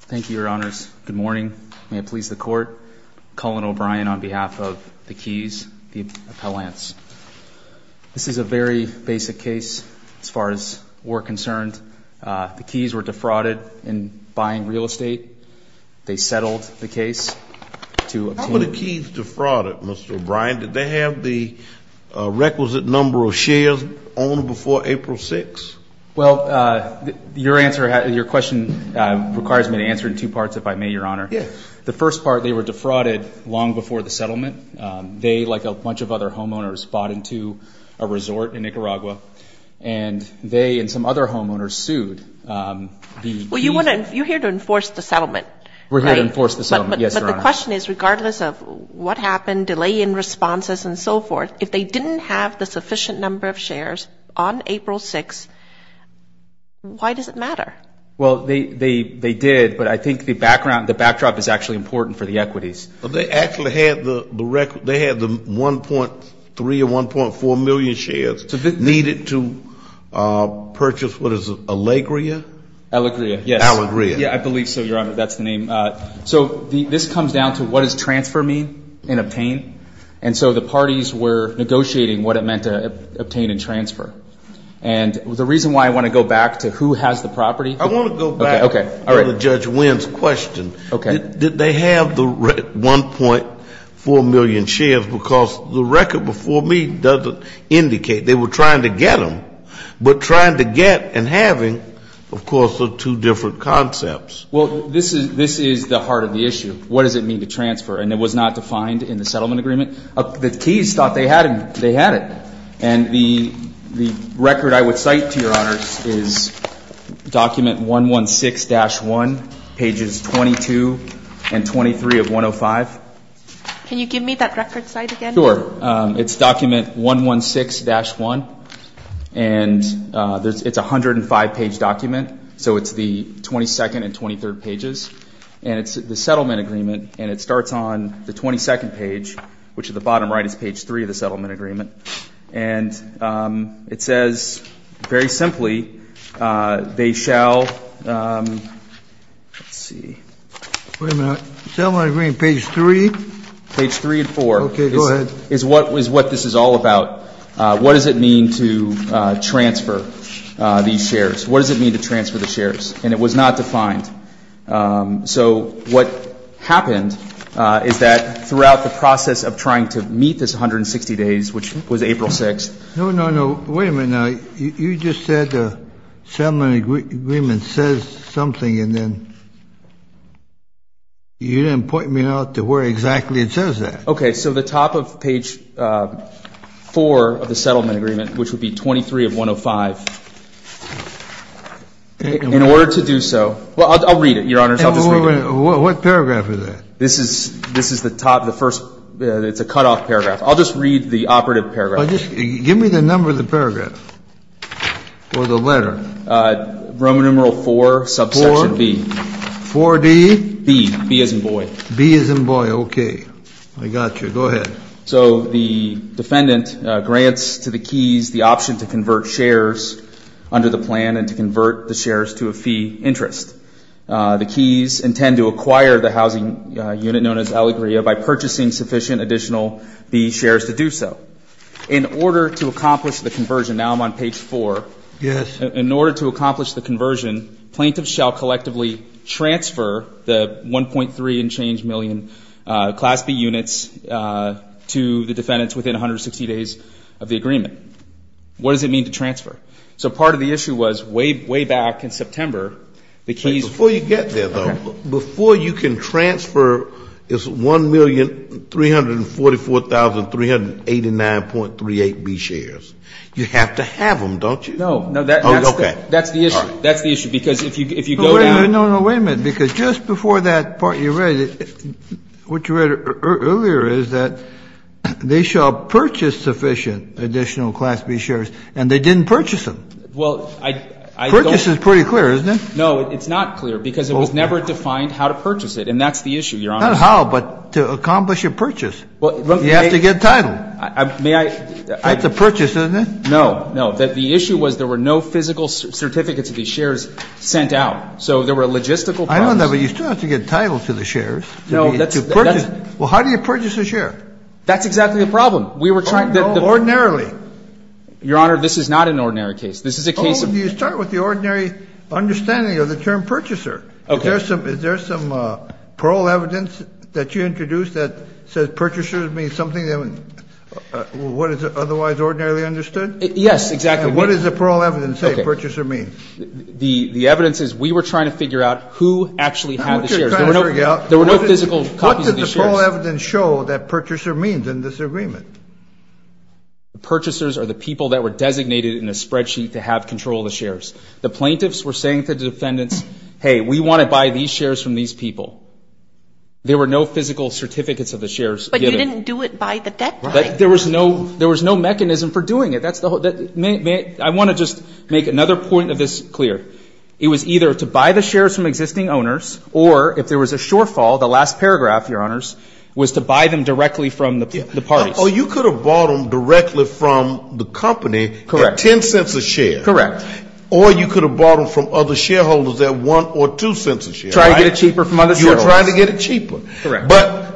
Thank you, Your Honors. Good morning. May it please the Court, Colin O'Brien on behalf of the Keys, the Appellants. This is a very basic case as far as we're concerned. The Keys were defrauded in buying real estate. They settled the case to obtain How were the Keys defrauded, Mr. O'Brien? Did they have the requisite number of shares owned before April 6th? Well, your question requires me to answer it in two parts, if I may, Your Honor. Yes. The first part, they were defrauded long before the settlement. They, like a bunch of other homeowners, bought into a resort in Nicaragua, and they and some other homeowners sued. Well, you're here to enforce the settlement, right? We're here to enforce the settlement, yes, Your Honor. But the question is, regardless of what happened, delay in responses and so forth, if they didn't have the sufficient number of shares on April 6th, why does it matter? Well, they did, but I think the background, the backdrop is actually important for the equities. Well, they actually had the 1.3 or 1.4 million shares needed to purchase what is it, Allegria? Allegria, yes. Allegria. Yeah, I believe so, Your Honor. That's the name. So this comes down to what does transfer mean in obtain? And so the parties were negotiating what it meant to obtain and transfer. And the reason why I want to go back to who has the property. I want to go back to Judge Wynn's question. Okay. Did they have the 1.4 million shares? Because the record before me doesn't indicate. They were trying to get them, but trying to get and having, of course, are two different concepts. Well, this is the heart of the issue. What does it mean to transfer? And it was not defined in the settlement agreement. The keys thought they had it. And the record I would cite to Your Honors is document 116-1, pages 22 and 23 of 105. Can you give me that record cite again? Sure. It's document 116-1. And it's a 105-page document. So it's the 22nd and 23rd pages. And it's the settlement agreement. And it starts on the 22nd page, which at the bottom right is page 3 of the settlement agreement. And it says very simply, they shall, let's see. Wait a minute. Settlement agreement page 3? Page 3 and 4. Okay, go ahead. Is what this is all about. What does it mean to transfer these shares? What does it mean to transfer the shares? And it was not defined. So what happened is that throughout the process of trying to meet this 160 days, which was April 6th. No, no, no. Wait a minute now. You just said the settlement agreement says something, and then you didn't point me out to where exactly it says that. Okay. So the top of page 4 of the settlement agreement, which would be 23 of 105, in order to do so. Well, I'll read it, Your Honors. I'll just read it. What paragraph is that? This is the top, the first. It's a cutoff paragraph. I'll just read the operative paragraph. Give me the number of the paragraph or the letter. Roman numeral 4, subsection B. 4D? B. B as in boy. B as in boy. Okay. I got you. Go ahead. So the defendant grants to the Keys the option to convert shares under the plan and to convert the shares to a fee interest. The Keys intend to acquire the housing unit known as Alegria by purchasing sufficient additional B shares to do so. In order to accomplish the conversion, now I'm on page 4. Yes. In order to accomplish the conversion, plaintiffs shall collectively transfer the 1.3 and change million class B units to the defendants within 160 days of the agreement. What does it mean to transfer? So part of the issue was way back in September, the Keys ---- Before you get there, though, before you can transfer this 1,344,389.38 B shares, you have to have them, don't you? No. That's the issue. That's the issue. Because if you go down ---- No, no, wait a minute. Because just before that part you read, what you read earlier is that they shall purchase sufficient additional class B shares, and they didn't purchase them. Well, I don't ---- Purchase is pretty clear, isn't it? No, it's not clear because it was never defined how to purchase it, and that's the issue, Your Honor. Not how, but to accomplish a purchase. You have to get title. May I ---- That's a purchase, isn't it? No. No. The issue was there were no physical certificates of these shares sent out. So there were logistical problems. I don't know, but you still have to get title to the shares. No, that's a purchase. Well, how do you purchase a share? That's exactly the problem. We were trying to ---- Ordinarily. Your Honor, this is not an ordinary case. This is a case of ---- Oh, you start with the ordinary understanding of the term purchaser. Okay. Is there some parole evidence that you introduced that says purchaser means something that was otherwise ordinarily understood? Yes, exactly. And what does the parole evidence say purchaser means? The evidence is we were trying to figure out who actually had the shares. There were no physical copies of these shares. What did the parole evidence show that purchaser means in this agreement? The purchasers are the people that were designated in a spreadsheet to have control of the shares. The plaintiffs were saying to the defendants, hey, we want to buy these shares from these people. There were no physical certificates of the shares given. But you didn't do it by the deadline. There was no mechanism for doing it. I want to just make another point of this clear. It was either to buy the shares from existing owners, or if there was a shortfall, the last paragraph, Your Honors, was to buy them directly from the parties. Oh, you could have bought them directly from the company at $0.10 a share. Correct. Or you could have bought them from other shareholders at $0.01 or $0.02 a share. Trying to get it cheaper from other shareholders. You were trying to get it cheaper. Correct. But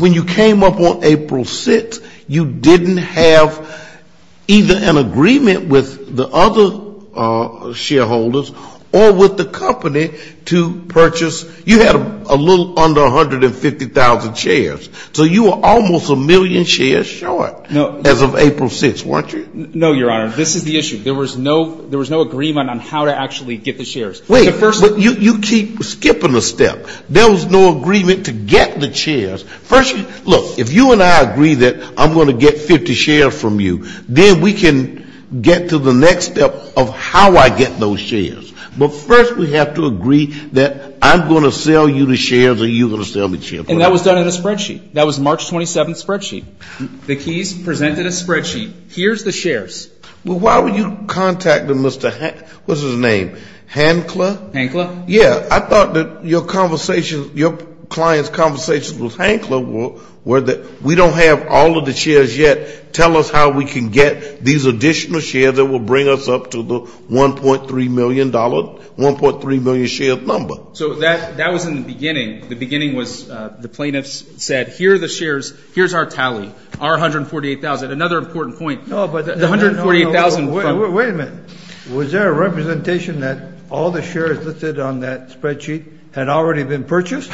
when you came up on April 6th, you didn't have either an agreement with the other shareholders or with the company to purchase. You had a little under 150,000 shares. So you were almost a million shares short as of April 6th, weren't you? No, Your Honor. This is the issue. There was no agreement on how to actually get the shares. Wait. You keep skipping a step. There was no agreement to get the shares. First, look, if you and I agree that I'm going to get 50 shares from you, then we can get to the next step of how I get those shares. But first we have to agree that I'm going to sell you the shares or you're going to sell me the shares. And that was done in a spreadsheet. That was March 27th spreadsheet. The Keys presented a spreadsheet. Here's the shares. Well, why were you contacting Mr. what's his name? Hankler? Hankler. Yeah. I thought that your conversation, your client's conversation with Hankler were that we don't have all of the shares yet. Tell us how we can get these additional shares that will bring us up to the $1.3 million, 1.3 million share number. So that was in the beginning. The beginning was the plaintiffs said, here are the shares, here's our tally, our 148,000. Another important point. No, but. The 148,000. Wait a minute. Was there a representation that all the shares listed on that spreadsheet had already been purchased?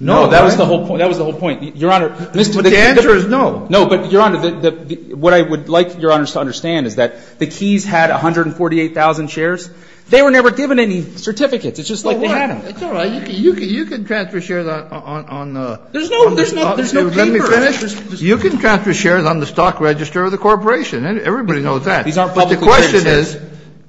No, that was the whole point. That was the whole point, Your Honor. But the answer is no. No, but Your Honor, what I would like Your Honors to understand is that the Keys had 148,000 shares. They were never given any certificates. It's just like they had them. It's all right. You can transfer shares on the. There's no paper. Let me finish. You can transfer shares on the stock register of the corporation. Everybody knows that. But the question is, the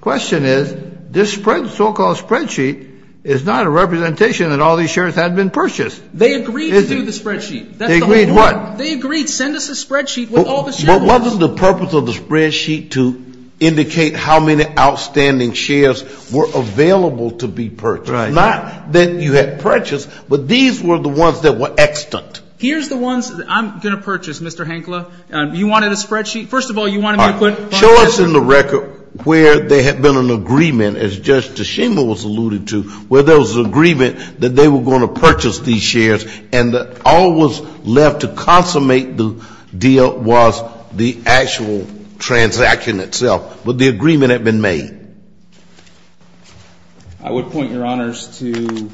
question is, this so-called spreadsheet is not a representation that all these shares had been purchased. They agreed to do the spreadsheet. They agreed what? They agreed, send us a spreadsheet with all the shares. But wasn't the purpose of the spreadsheet to indicate how many outstanding shares were available to be purchased? Right. Not that you had purchased, but these were the ones that were extant. Here's the ones that I'm going to purchase, Mr. Hankla. You wanted a spreadsheet. First of all, you wanted me to put it on the register. All right. Show us in the record where there had been an agreement, as Judge Tshima was alluding to, where there was an agreement that they were going to purchase these shares, and all that was left to consummate the deal was the actual transaction itself. But the agreement had been made. I would point Your Honors to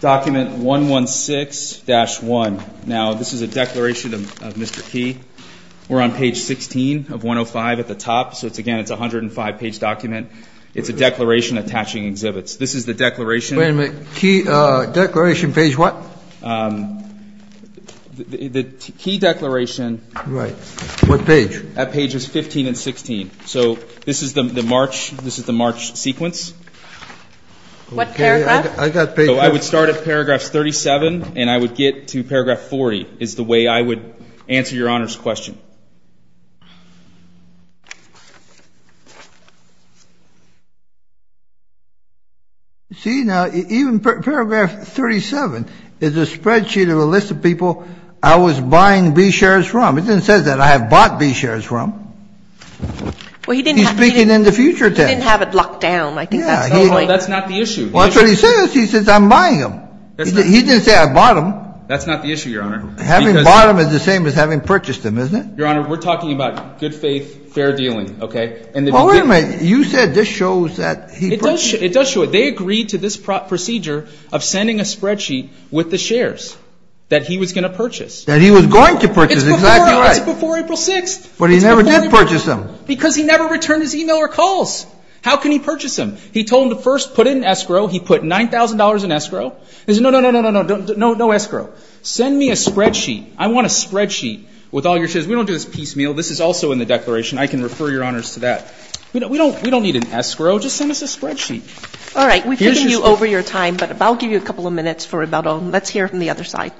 document 116-1. Now, this is a declaration of Mr. Key. We're on page 16 of 105 at the top. So, again, it's a 105-page document. It's a declaration attaching exhibits. This is the declaration. Wait a minute. Key declaration page what? The key declaration. Right. What page? At pages 15 and 16. So this is the March sequence. What paragraph? I would start at paragraph 37, and I would get to paragraph 40 is the way I would answer Your Honors' question. See, now, even paragraph 37 is a spreadsheet of a list of people I was buying B shares from. It doesn't say that I have bought B shares from. He's speaking in the future tense. He didn't have it locked down. I think that's the point. That's not the issue. Well, that's what he says. He says I'm buying them. He didn't say I bought them. That's not the issue, Your Honor. Having bought them is the same as having purchased them, isn't it? Your Honor, we're talking about good faith, fair dealing, okay? Well, wait a minute. You said this shows that he purchased them. It does show it. They agreed to this procedure of sending a spreadsheet with the shares that he was going to purchase. That he was going to purchase. Exactly right. It's before April 6th. But he never did purchase them. Because he never returned his e-mail or calls. How can he purchase them? He told them to first put in escrow. He put $9,000 in escrow. He said, no, no, no, no, no, no, no, no escrow. Send me a spreadsheet. I want a spreadsheet with all your shares. We don't do this piecemeal. This is also in the declaration. I can refer Your Honors to that. We don't need an escrow. Just send us a spreadsheet. All right. We've taken you over your time. But I'll give you a couple of minutes for about all. Let's hear from the other side.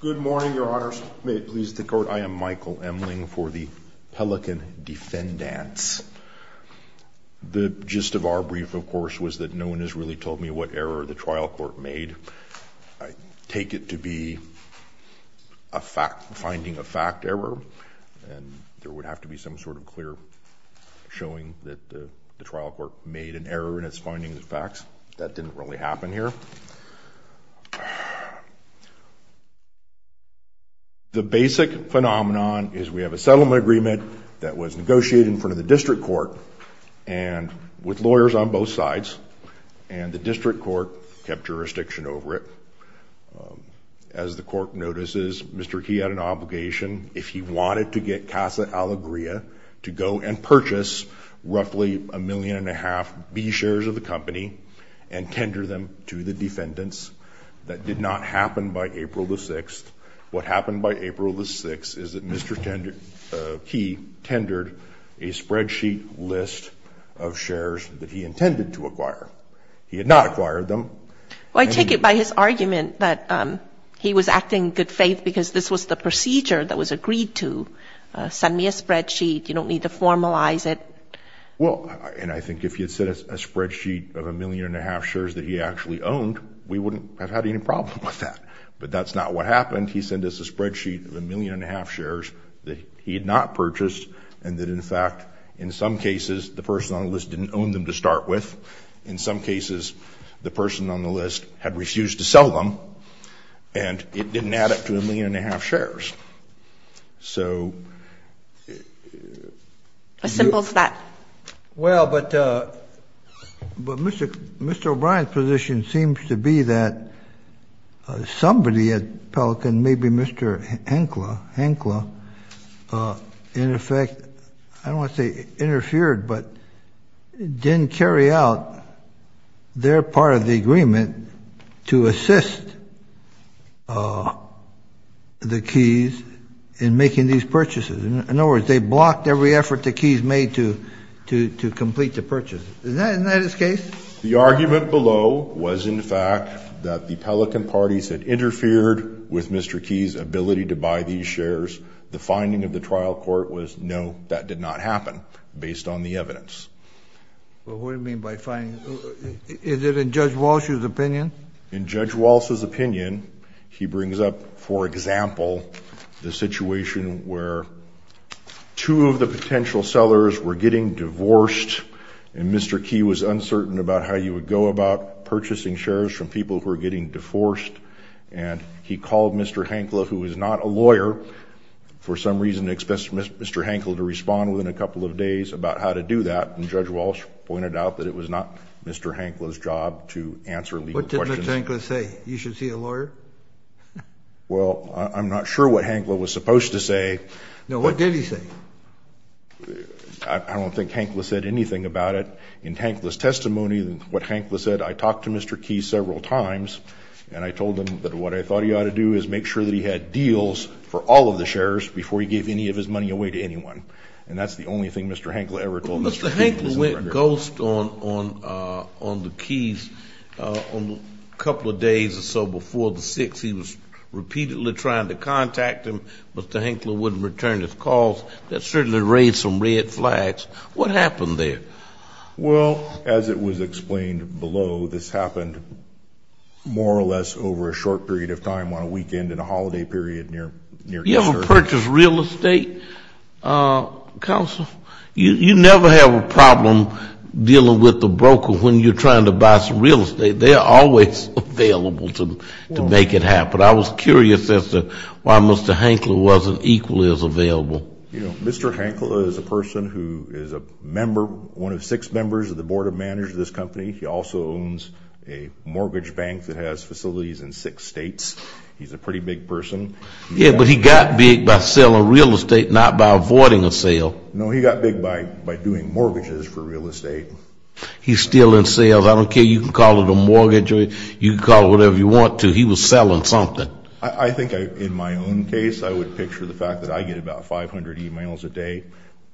Good morning, Your Honors. May it please the Court. I am Michael Emling for the Pelican Defendants. The gist of our brief, of course, was that no one has really told me what error the trial court made. I take it to be a finding of fact error. And there would have to be some sort of clear showing that the trial court made an error in its findings and facts. That didn't really happen here. The basic phenomenon is we have a settlement agreement that was negotiated in front of the district court and with lawyers on both sides, and the district court kept jurisdiction over it. As the court notices, Mr. Key had an obligation, if he wanted to get Casa Alegría, to go and purchase roughly a million and a half B shares of the company and tender them to the defendants. That did not happen by April the 6th. What happened by April the 6th is that Mr. Key tendered a spreadsheet list of shares that he intended to acquire. He had not acquired them. Well, I take it by his argument that he was acting in good faith because this was the procedure that was agreed to. Send me a spreadsheet. You don't need to formalize it. Well, and I think if he had sent us a spreadsheet of a million and a half shares that he actually owned, we wouldn't have had any problem with that. But that's not what happened. He sent us a spreadsheet of a million and a half shares that he had not purchased, and that, in fact, in some cases, the person on the list didn't own them to start with. In some cases, the person on the list had refused to sell them, and it didn't add up to a million and a half shares. So... As simple as that. Well, but Mr. O'Brien's position seems to be that somebody at Pelican, and maybe Mr. Henkla, in effect, I don't want to say interfered, but didn't carry out their part of the agreement to assist the Keys in making these purchases. In other words, they blocked every effort the Keys made to complete the purchase. Isn't that his case? The argument below was, in fact, that the Pelican parties had interfered with Mr. Keys' ability to buy these shares. The finding of the trial court was, no, that did not happen, based on the evidence. Well, what do you mean by finding? Is it in Judge Walsh's opinion? In Judge Walsh's opinion, he brings up, for example, the situation where two of the potential sellers were getting divorced, and Mr. Key was uncertain about how you would go about purchasing shares from people who were getting divorced, and he called Mr. Henkla, who was not a lawyer, for some reason, and expected Mr. Henkla to respond within a couple of days about how to do that, and Judge Walsh pointed out that it was not Mr. Henkla's job to answer legal questions. What did Mr. Henkla say? You should see a lawyer? Well, I'm not sure what Henkla was supposed to say. No, what did he say? I don't think Henkla said anything about it. In Henkla's testimony, what Henkla said, I talked to Mr. Keys several times, and I told him that what I thought he ought to do is make sure that he had deals for all of the shares before he gave any of his money away to anyone, and that's the only thing Mr. Henkla ever told Mr. Keys. Mr. Henkla went ghost on the Keys a couple of days or so before the 6th. He was repeatedly trying to contact him. Mr. Henkla wouldn't return his calls. That certainly raised some red flags. What happened there? Well, as it was explained below, this happened more or less over a short period of time, on a weekend in a holiday period near New Jersey. You ever purchase real estate, counsel? You never have a problem dealing with the broker when you're trying to buy some real estate. They are always available to make it happen. But I was curious as to why Mr. Henkla wasn't equally as available. You know, Mr. Henkla is a person who is a member, one of six members of the board of managers of this company. He also owns a mortgage bank that has facilities in six states. He's a pretty big person. Yeah, but he got big by selling real estate, not by avoiding a sale. No, he got big by doing mortgages for real estate. He's still in sales. I don't care. You can call it a mortgage or you can call it whatever you want to. He was selling something. I think in my own case, I would picture the fact that I get about 500 e-mails a day,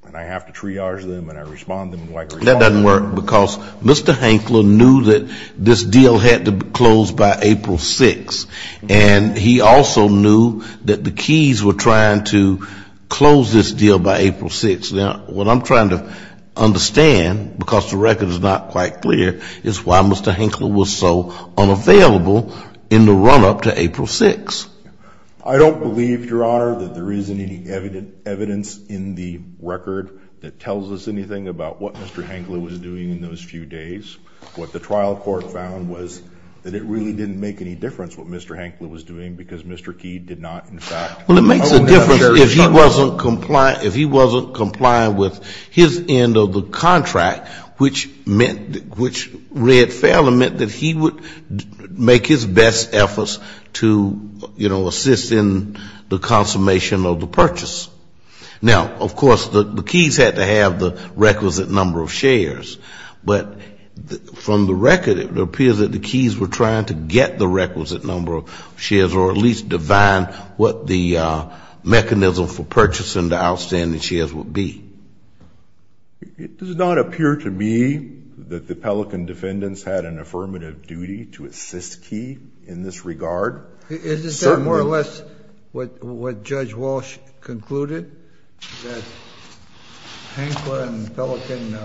and I have to triage them and I respond to them. That doesn't work because Mr. Henkla knew that this deal had to be closed by April 6th. And he also knew that the keys were trying to close this deal by April 6th. Now, what I'm trying to understand, because the record is not quite clear, is why Mr. Henkla was so unavailable in the run-up to April 6th. I don't believe, Your Honor, that there is any evidence in the record that tells us anything about what Mr. Henkla was doing in those few days. What the trial court found was that it really didn't make any difference what Mr. Henkla was doing because Mr. Key did not, in fact, own that insurance. Well, it makes a difference if he wasn't compliant with his end of the contract, which meant, which read fairly, meant that he would make his best efforts to, you know, assist in the consummation of the purchase. Now, of course, the keys had to have the requisite number of shares, but from the record it appears that the keys were trying to get the requisite number of shares or at least define what the mechanism for purchasing the outstanding shares would be. It does not appear to me that the Pelican defendants had an affirmative duty to assist Key in this regard. Isn't that more or less what Judge Walsh concluded, that Henkla and Pelican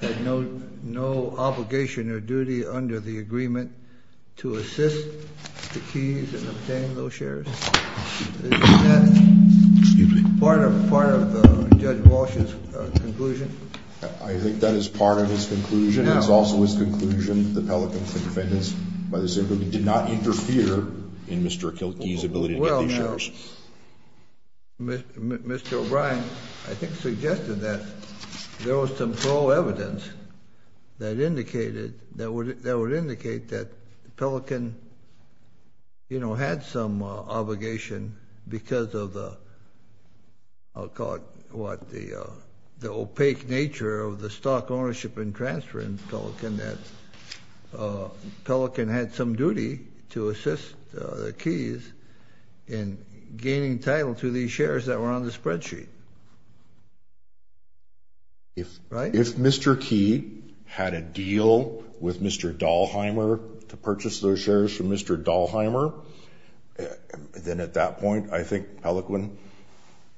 had no obligation or duty under the agreement to assist the Keys in obtaining those shares? Excuse me? Part of Judge Walsh's conclusion? I think that is part of his conclusion. It's also his conclusion the Pelican defendants, by the same token, did not interfere in Mr. Key's ability to get these shares. Well, now, Mr. O'Brien, I think, suggested that there was some thorough evidence that indicated, that would indicate that Pelican, you know, had some obligation because of the, I'll call it what, the opaque nature of the stock ownership and transfer in Pelican, that Pelican had some duty to assist the Keys in gaining title to these shares that were on the spreadsheet. If, right? If Mr. Key had a deal with Mr. Dalheimer to purchase those shares from Mr. Dalheimer, then at that point, I think Pelican,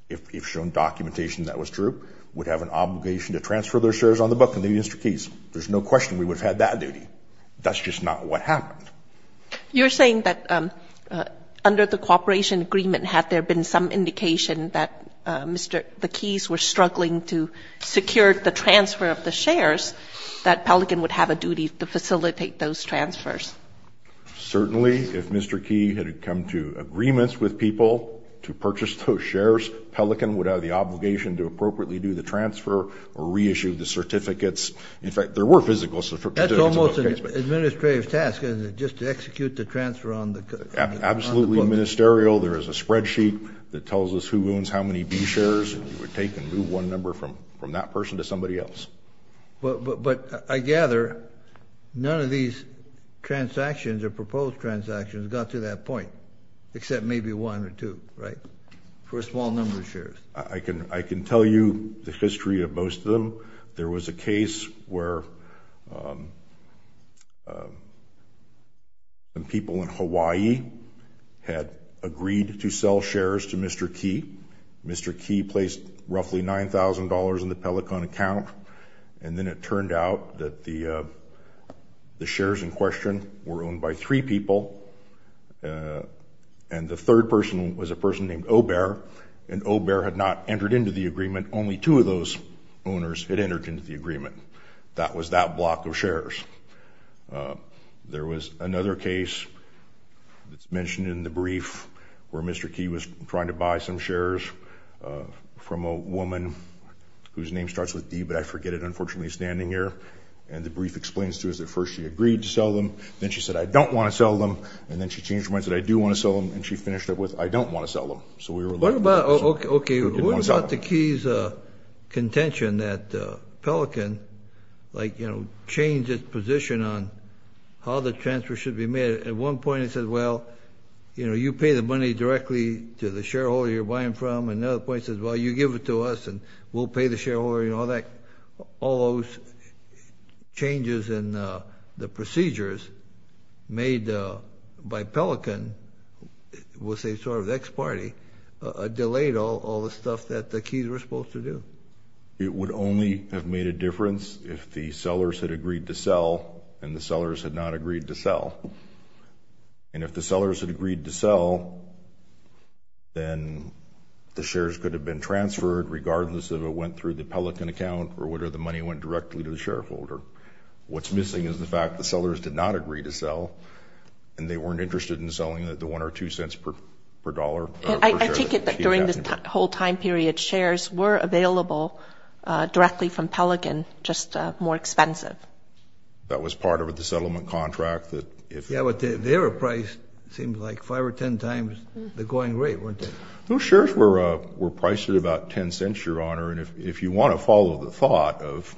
if shown documentation that was true, would have an obligation to transfer those shares on the book to Mr. Keys. There's no question we would have had that duty. That's just not what happened. You're saying that under the cooperation agreement, had there been some indication that Mr. Keys were struggling to secure the transfer of the shares, that Pelican would have a duty to facilitate those transfers? Certainly. If Mr. Key had come to agreements with people to purchase those shares, Pelican would have the obligation to appropriately do the transfer or reissue the certificates. In fact, there were physical certificates. That's almost an administrative task, isn't it, just to execute the transfer on the book? Absolutely ministerial. There is a spreadsheet that tells us who owns how many B shares, and you would take and move one number from that person to somebody else. But I gather none of these transactions or proposed transactions got to that point, except maybe one or two, right, for a small number of shares. I can tell you the history of most of them. There was a case where people in Hawaii had agreed to sell shares to Mr. Key. Mr. Key placed roughly $9,000 in the Pelican account, and then it turned out that the shares in question were owned by three people, and the third person was a person named Obear, and Obear had not entered into the agreement. Only two of those owners had entered into the agreement. That was that block of shares. There was another case that's mentioned in the brief where Mr. Key was trying to buy some shares from a woman whose name starts with D, but I forget it, unfortunately, standing here, and the brief explains to us that first she agreed to sell them, then she said, I don't want to sell them, and then she changed her mind and said, I do want to sell them, and she finished up with, I don't want to sell them. What about the Key's contention that Pelican changed its position on how the transfer should be made? At one point it says, well, you pay the money directly to the shareholder you're buying from, and at another point it says, well, you give it to us and we'll pay the shareholder, all those changes in the procedures made by Pelican was a sort of ex parte, delayed all the stuff that the Keys were supposed to do. It would only have made a difference if the sellers had agreed to sell and the sellers had not agreed to sell, and if the sellers had agreed to sell, then the shares could have been transferred regardless if it went through the Pelican account or whether the money went directly to the shareholder. What's missing is the fact the sellers did not agree to sell and they weren't interested in selling the one or two cents per dollar. I take it that during this whole time period, shares were available directly from Pelican, just more expensive. That was part of the settlement contract. Yeah, but their price seemed like five or ten times the going rate, weren't it? Those shares were priced at about ten cents, Your Honor, and if you want to follow the thought of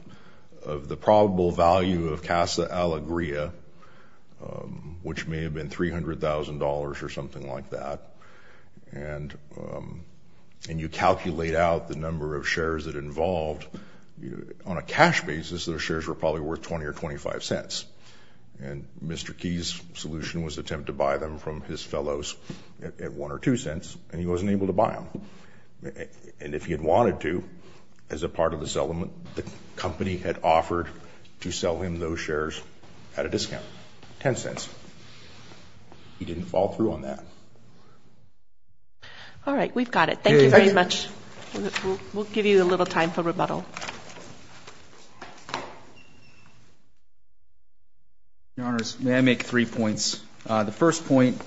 the probable value of Casa Alegria, which may have been $300,000 or something like that, and you calculate out the number of shares that involved, on a cash basis, those shares were probably worth 20 or 25 cents, and Mr. Key's solution was to attempt to buy them from his fellows at one or two cents, and he wasn't able to buy them. And if he had wanted to, as a part of the settlement, the company had offered to sell him those shares at a discount, ten cents. He didn't follow through on that. All right, we've got it. Thank you very much. We'll give you a little time for rebuttal. May I make three points? The first point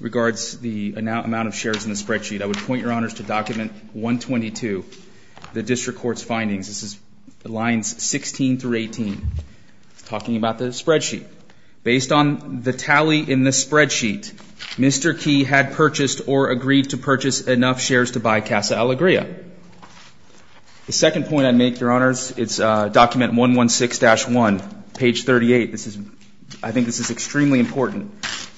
regards the amount of shares in the spreadsheet. I would point Your Honors to document 122, the district court's findings. This is lines 16 through 18. It's talking about the spreadsheet. Based on the tally in the spreadsheet, Mr. Key had purchased or agreed to purchase enough shares to buy Casa Alegria. The second point I'd make, Your Honors, is document 116-1, page 38. I think this is extremely important.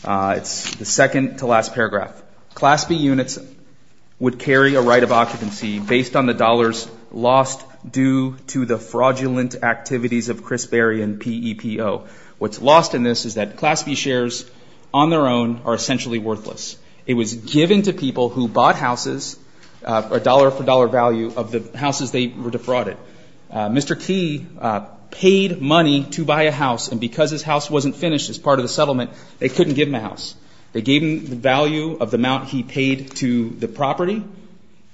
It's the second to last paragraph. Class B units would carry a right of occupancy based on the dollars lost due to the fraudulent activities of Chris Berry and PEPO. What's lost in this is that Class B shares on their own are essentially worthless. It was given to people who bought houses, dollar for dollar value, of the houses they were defrauded. Mr. Key paid money to buy a house, and because his house wasn't finished as part of the settlement, they couldn't give him a house. They gave him the value of the amount he paid to the property,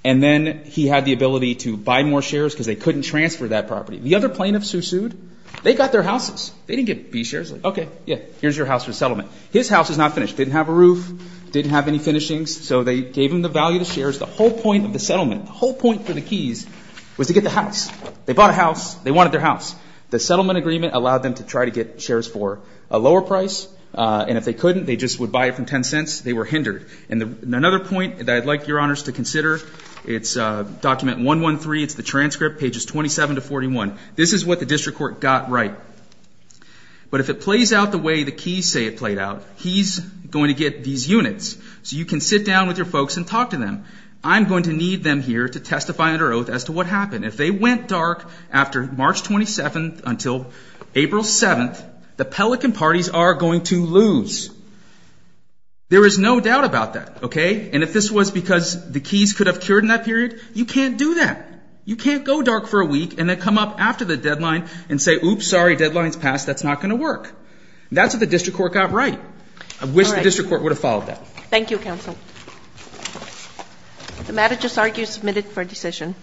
and then he had the ability to buy more shares because they couldn't transfer that property. The other plaintiffs who sued, they got their houses. They didn't get B shares. Okay, yeah, here's your house for the settlement. His house is not finished. It didn't have a roof. It didn't have any finishings. So they gave him the value of the shares. The whole point of the settlement, the whole point for the Keys was to get the house. They bought a house. They wanted their house. The settlement agreement allowed them to try to get shares for a lower price, and if they couldn't, they just would buy it from 10 cents. They were hindered. And another point that I'd like your honors to consider, it's document 113. It's the transcript, pages 27 to 41. This is what the district court got right. But if it plays out the way the Keys say it played out, he's going to get these units. So you can sit down with your folks and talk to them. I'm going to need them here to testify under oath as to what happened. If they went dark after March 27th until April 7th, the Pelican parties are going to lose. There is no doubt about that, okay? And if this was because the Keys could have cured in that period, you can't do that. You can't go dark for a week and then come up after the deadline and say, oops, sorry, deadline's passed. That's not going to work. That's what the district court got right. I wish the district court would have followed that. Thank you, counsel. If the matter is disargued, you're submitted for decision.